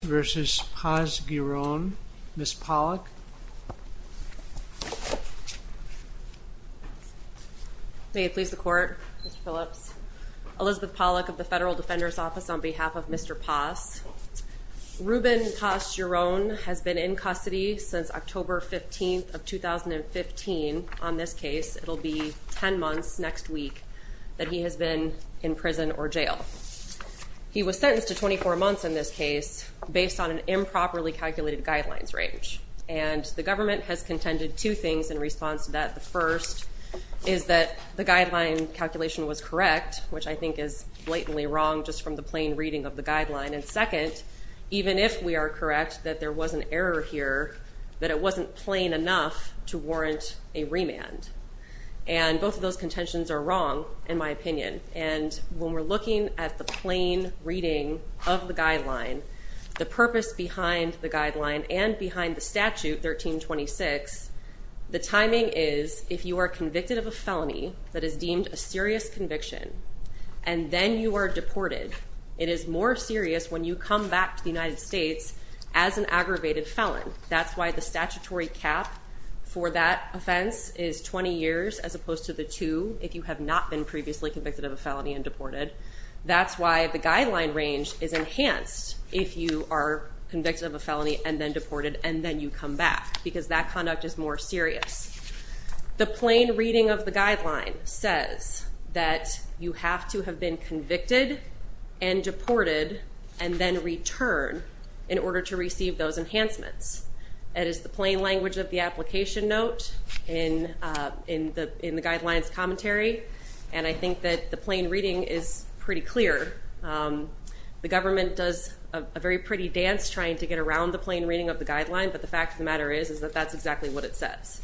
v. Paz-Giron. Ms. Pollack. May it please the court, Mr. Phillips. Elizabeth Pollack of the Federal Defender's Office on behalf of Mr. Paz. Ruben Paz-Giron has been in custody since October 15th of 2015. On this case it'll be 10 months next week that he has been in prison or jail. He was sentenced to 24 months in this case based on an improperly calculated guidelines range. And the government has contended two things in response to that. The first is that the guideline calculation was correct, which I think is blatantly wrong just from the plain reading of the guideline. And second, even if we are correct that there was an error here, that it wasn't plain enough to warrant a remand. And both of those contentions are wrong in my opinion. And when we're looking at the plain reading of the guideline, the purpose behind the guideline, and behind the statute 1326, the timing is if you are convicted of a felony that is deemed a serious conviction and then you are deported, it is more serious when you come back to the United States as an aggravated felon. That's why the statutory cap for that offense is 20 years as opposed to the two if you have not been previously convicted of a felony and deported. That's why the guideline range is enhanced if you are convicted of a felony and then deported and then you come back because that conduct is more serious. The plain reading of the guideline says that you have to have been convicted and deported and then return in order to receive those enhancements. That is the plain language of the application note in the guidelines commentary and I think that the plain reading is pretty clear. The government does a very pretty dance trying to get around the plain reading of the guideline but the fact of the matter is is that that's exactly what it says.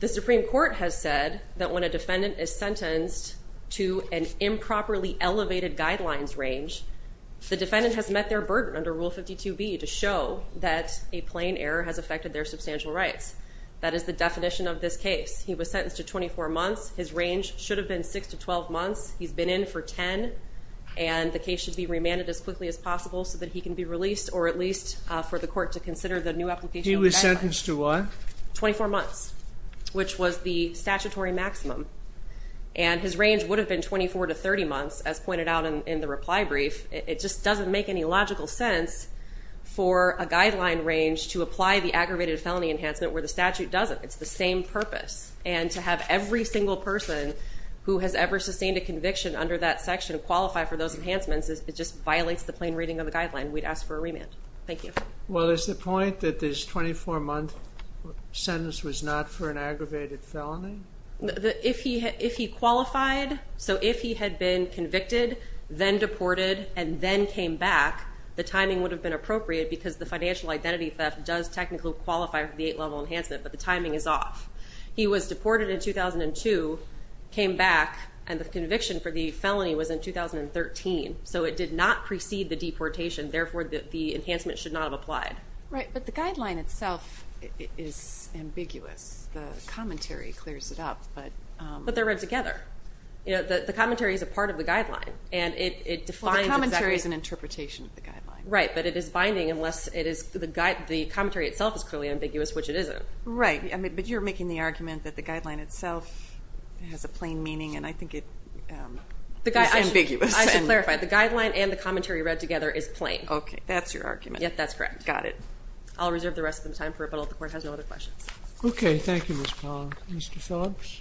The Supreme Court has said that when a defendant is sentenced to an improperly elevated guidelines range, the defendant has met their burden under Rule 52b to show that a plain error has affected their substantial rights. That is the definition of this case. He was sentenced to 24 months. His range should have been 6 to 12 months. He's been in for 10 and the case should be remanded as quickly as possible so that he can be released or at least for the court to consider the new application. He was sentenced to what? 24 months which was the statutory maximum and his range would have been 24 to 30 months as pointed out in the reply brief. It just doesn't make any logical sense for a guideline range to have every single person who has ever sustained a conviction under that section qualify for those enhancements. It just violates the plain reading of the guideline. We'd ask for a remand. Thank you. Well is the point that this 24 month sentence was not for an aggravated felony? If he qualified, so if he had been convicted, then deported, and then came back, the timing would have been appropriate because the financial identity theft does technically qualify for the 8-level enhancement but the timing is off. He was deported in 2002, came back, and the conviction for the felony was in 2013. So it did not precede the deportation. Therefore, the enhancement should not have applied. Right, but the guideline itself is ambiguous. The commentary clears it up. But they're read together. You know, the commentary is a part of the guideline and it defines... The commentary is an interpretation of the guideline. Right, but it is ambiguous, which it isn't. Right, but you're making the argument that the guideline itself has a plain meaning and I think it's ambiguous. I should clarify, the guideline and the commentary read together is plain. Okay, that's your argument. Yep, that's correct. Got it. I'll reserve the rest of the time for it, but the Court has no other questions. Okay, thank you, Ms. Pong. Mr. Phillips?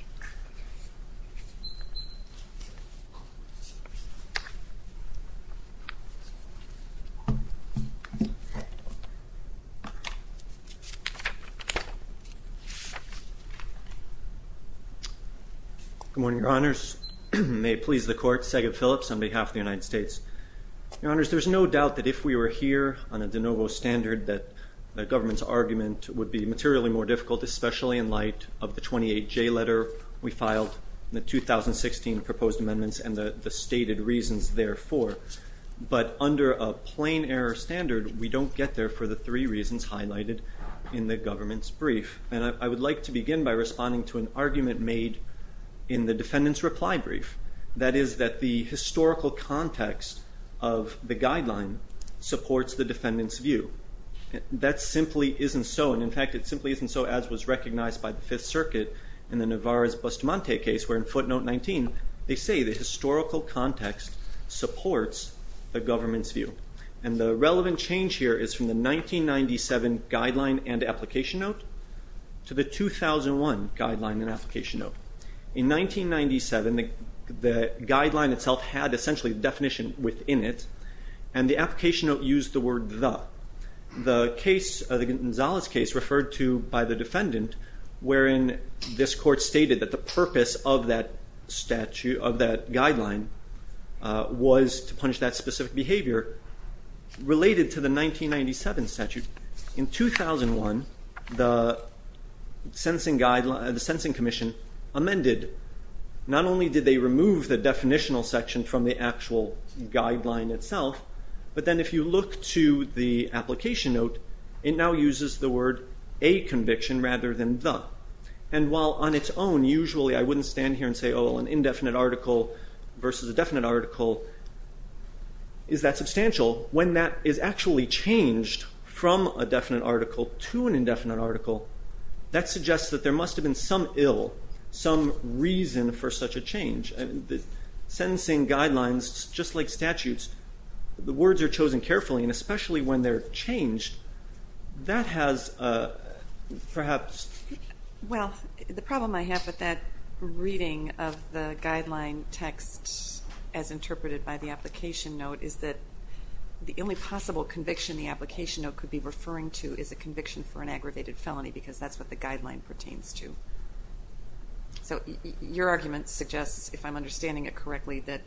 Good morning, Your Honors. May it please the Court, Sagan Phillips on behalf of the United States. Your Honors, there's no doubt that if we were here on a de novo standard that the government's argument would be materially more difficult, especially in light of the 28J letter we filed in the 2016 proposed amendments and the stated reasons therefore. But under a plain error standard, we don't get there for the three reasons highlighted in the government's brief. And I would like to begin by responding to an argument made in the defendant's reply brief. That is that the historical context of the guideline supports the government's view. That simply isn't so, and in fact it simply isn't so as was recognized by the Fifth Circuit in the Navarro's Bustamante case where in footnote 19, they say the historical context supports the government's view. And the relevant change here is from the 1997 guideline and application note to the 2001 guideline and application note. In 1997, the guideline itself had essentially the definition within it, and the application note used the word the. The Gonzalez case referred to by the defendant wherein this court stated that the purpose of that guideline was to punish that specific behavior related to the 1997 statute. In 2001, the Sensing Commission amended, not only did they remove the actual guideline itself, but then if you look to the application note, it now uses the word a conviction rather than the. And while on its own, usually I wouldn't stand here and say, oh, an indefinite article versus a definite article is that substantial, when that is actually changed from a definite article to an indefinite article, that suggests that there must have been some ill, some reason for such a change. The sentencing guidelines, just like statutes, the words are chosen carefully, and especially when they're changed, that has perhaps. Well, the problem I have with that reading of the guideline text as interpreted by the application note is that the only possible conviction the application note could be referring to is a conviction for an aggravated felony because that's what the guideline pertains to. So your argument suggests, if I'm understanding it correctly, that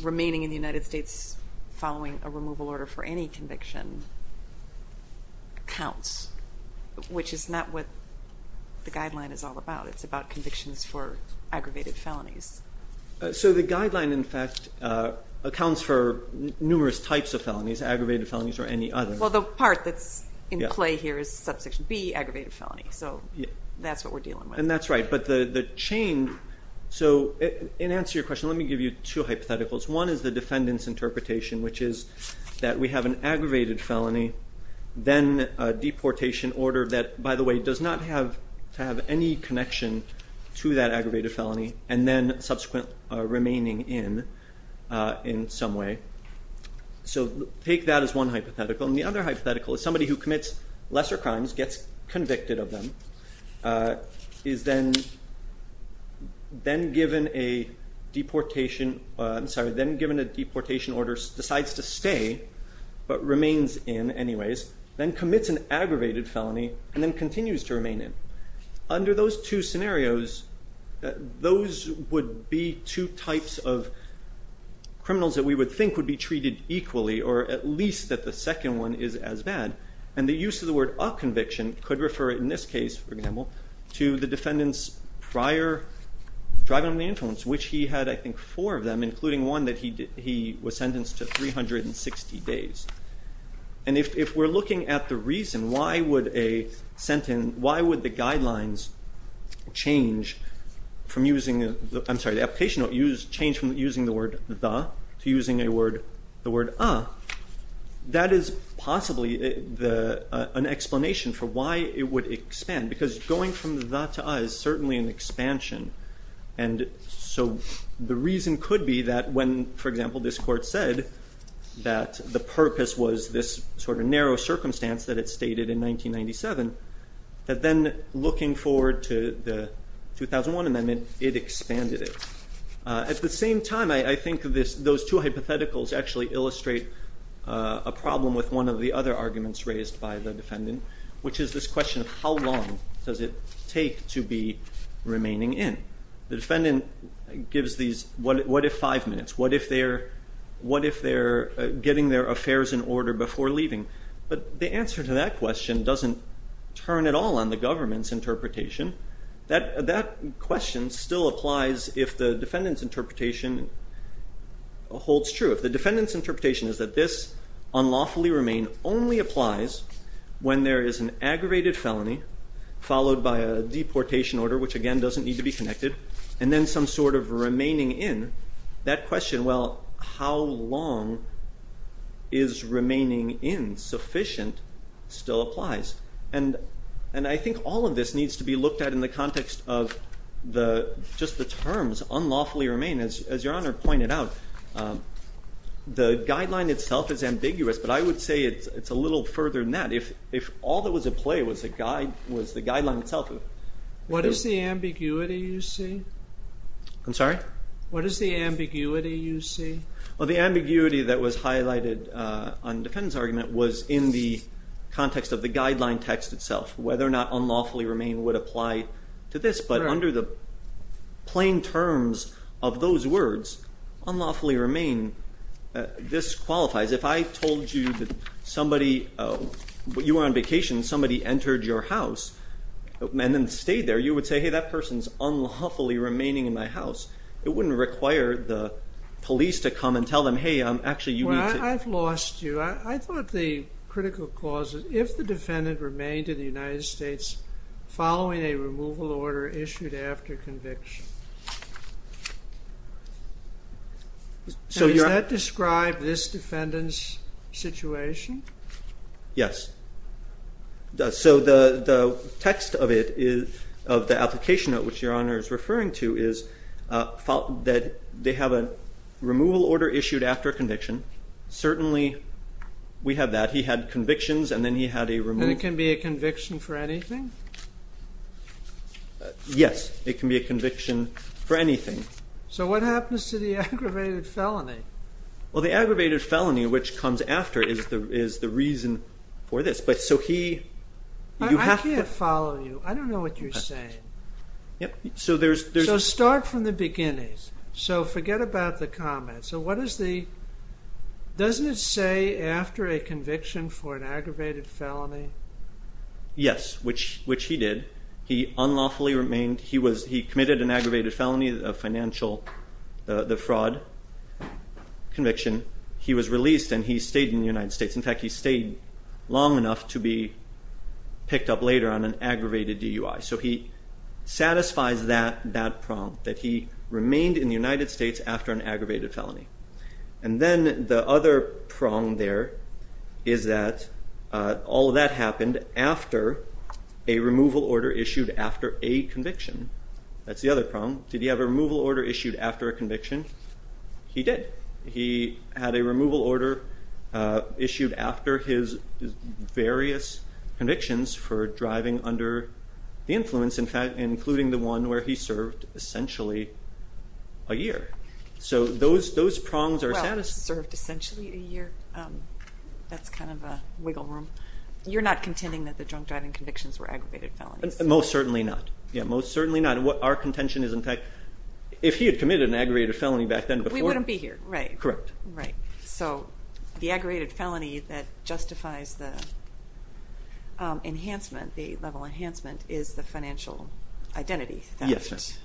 remaining in the United States following a removal order for any conviction counts, which is not what the guideline is all about. It's about convictions for aggravated felonies. So the guideline in fact accounts for numerous types of felonies, aggravated felonies or any other. Well, the part that's in play here is subsection B, aggravated felony. So that's what we're dealing with. And that's right, but the chain, so in answer to your question, let me give you two hypotheticals. One is the defendant's interpretation, which is that we have an aggravated felony, then a deportation order that, by the way, does not have to have any connection to that aggravated felony, and then subsequent remaining in, in some way. So take that as one hypothetical. And the other hypothetical is somebody who commits lesser crimes, gets convicted of them, is then given a deportation, I'm sorry, then given a deportation order, decides to stay, but remains in anyways, then commits an aggravated felony, and then continues to remain in. Under those two scenarios, those would be two types of criminals that we would think would be treated equally, or at least that the second one is as bad. And the use of the word up-conviction could refer in this case, for example, to the defendant's prior driving on the influence, which he had, I think, four of them, including one that he did, he was sentenced to 360 days. And if we're looking at the reason, why would a sentence, why would the guidelines change from using, I'm sorry, the application change from using the word the, to using a word, the word a, that is possibly an explanation for why it would expand, because going from the the to a is certainly an expansion. And so the reason could be that when, for example, this court said that the purpose was this sort of narrow circumstance that it stated in 1997, that then looking forward to the 2001 amendment, it expanded it. At the same time, I, I think this, those two hypotheticals actually illustrate a problem with one of the other arguments raised by the defendant, which is this question of how long does it take to be remaining in? The defendant gives these, what, what if five minutes? What if they're, what if they're getting their affairs in order before leaving? But the answer to that question doesn't turn at all on the government's interpretation. That, that question still applies if the defendant's interpretation holds true. If the defendant's interpretation is that this unlawfully remain only applies when there is an aggravated felony, followed by a deportation order, which again doesn't need to be connected, and then some sort of remaining in, that question, well, how long is remaining in sufficient, still applies. And, and I think all of this needs to be looked at in the context of the, just the terms, unlawfully remain. As, as Your Honor pointed out, the guideline itself is ambiguous, but I would say it's, it's a little further than that. If, if all that was at play was a guide, was the guideline itself. What is the ambiguity you see? I'm sorry? What is the ambiguity you see? Well, the ambiguity that was highlighted on defendant's argument was in the context of the guideline text itself. Whether or not unlawfully remain would apply to this, but under the plain terms of those words, unlawfully remain, this qualifies. If I told you that somebody, you were on vacation, somebody entered your house and then stayed there, you would say, hey, that person's unlawfully remaining in my house. It wouldn't require the police to come and tell them, hey, I'm actually, you need to... Well, I've lost you. I thought the critical clause, if the defendant remained in the United States following a removal order issued after conviction. So does that which your honor is referring to is that they have a removal order issued after conviction. Certainly we have that. He had convictions and then he had a... And it can be a conviction for anything? Yes, it can be a conviction for anything. So what happens to the aggravated felony? Well, the aggravated felony, which comes after is the, is the reason for this, but so he... I can't follow you. I don't know what you're saying. Yep, so there's... So start from the beginning. So forget about the comment. So what is the, doesn't it say after a conviction for an aggravated felony? Yes, which he did. He unlawfully remained. He was, he committed an aggravated felony, a financial, the fraud conviction. He was released and he stayed in the United States. In fact, he stayed long enough to be picked up later on an aggravated felony. So he satisfies that, that prompt, that he remained in the United States after an aggravated felony. And then the other prong there is that all that happened after a removal order issued after a conviction. That's the other prong. Did he have a removal order issued after a conviction? He did. He had a removal order issued after his various convictions for driving under the influence, in fact, including the one where he served essentially a year. So those, those prongs are... Well, served essentially a year. That's kind of a wiggle room. You're not contending that the drunk driving convictions were aggravated felonies. Most certainly not. Yeah, most certainly not. What our contention is, in fact, if he had committed an aggravated felony back then before... We wouldn't be here, right. Correct. Right. So the aggravated felony that justifies the enhancement, the level enhancement, is the financial identity. Yes.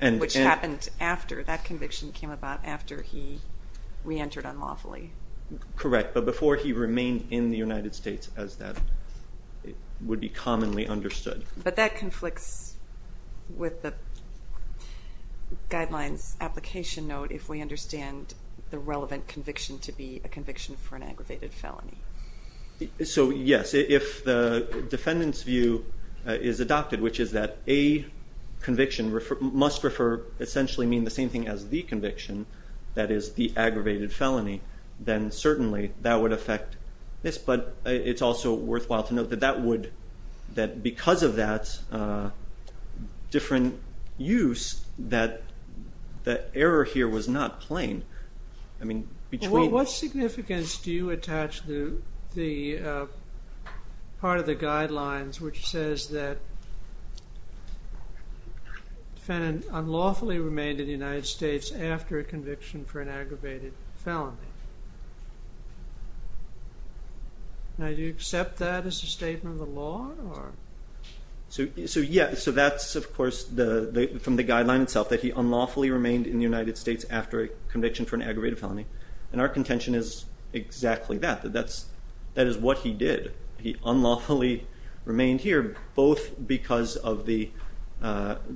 Which happened after that conviction came about, after he re-entered unlawfully. Correct, but before he remained in the United States as that would be commonly understood. But that conflicts with the guidelines application note if we understand the relevant conviction to be a conviction for an aggravated felony. So yes, if the defendant's view is adopted, which is that a conviction must refer, essentially mean the same thing as the conviction, that is the aggravated felony, then certainly that would affect this. But it's also worthwhile to note that that would, that because of that different use, that the error here was not plain. I mean, between... What significance do you attach to the part of the guidelines which says that defendant unlawfully remained in the United States after a conviction for an aggravated felony? Now from the guideline itself that he unlawfully remained in the United States after a conviction for an aggravated felony, and our contention is exactly that. That is what he did. He unlawfully remained here, both because of the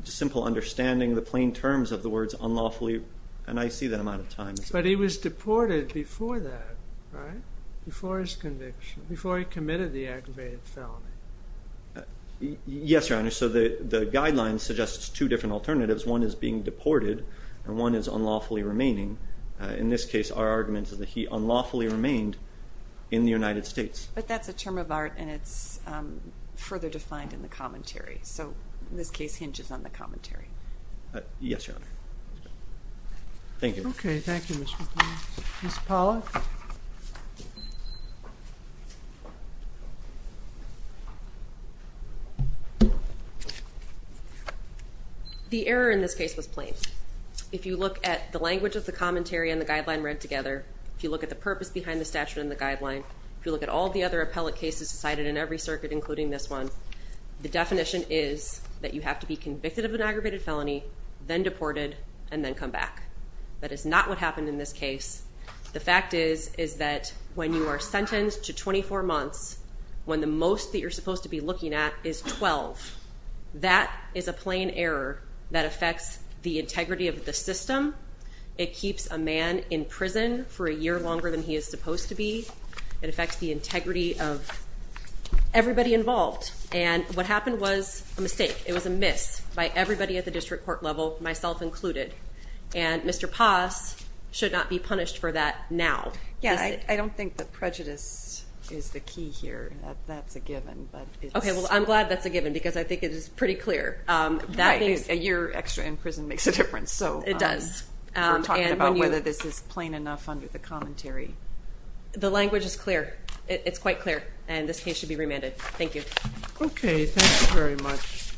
simple understanding, the plain terms of the words unlawfully, and I see that amount of times. But he was deported before that, right? Before his conviction, before he committed the aggravated felony. Yes, Your Honor, so the guidelines suggests two different alternatives. One is being deported and one is unlawfully remaining. In this case, our argument is that he unlawfully remained in the United States. But that's a term of art and it's further defined in the commentary, so this case hinges on the commentary. Yes, Your Honor. Thank you. Okay, thank you, Ms. McNeil. Ms. Pollack? The error in this case was plain. If you look at the language of the commentary and the guideline read together, if you look at the purpose behind the statute and the guideline, if you look at all the other appellate cases decided in every circuit including this one, the definition is that you have to be is not what happened in this case. The fact is, is that when you are sentenced to 24 months, when the most that you're supposed to be looking at is 12, that is a plain error that affects the integrity of the system. It keeps a man in prison for a year longer than he is supposed to be. It affects the integrity of everybody involved. And what happened was a mistake. It was a miss by everybody at the district court level, myself included. And Mr. Paz should not be punished for that now. Yeah, I don't think that prejudice is the key here. That's a given. Okay, well, I'm glad that's a given because I think it is pretty clear. A year extra in prison makes a difference. It does. We're talking about whether this is plain enough under the commentary. The language is clear. It's quite clear. And this case should be remanded. Thank you. Okay, thanks very much.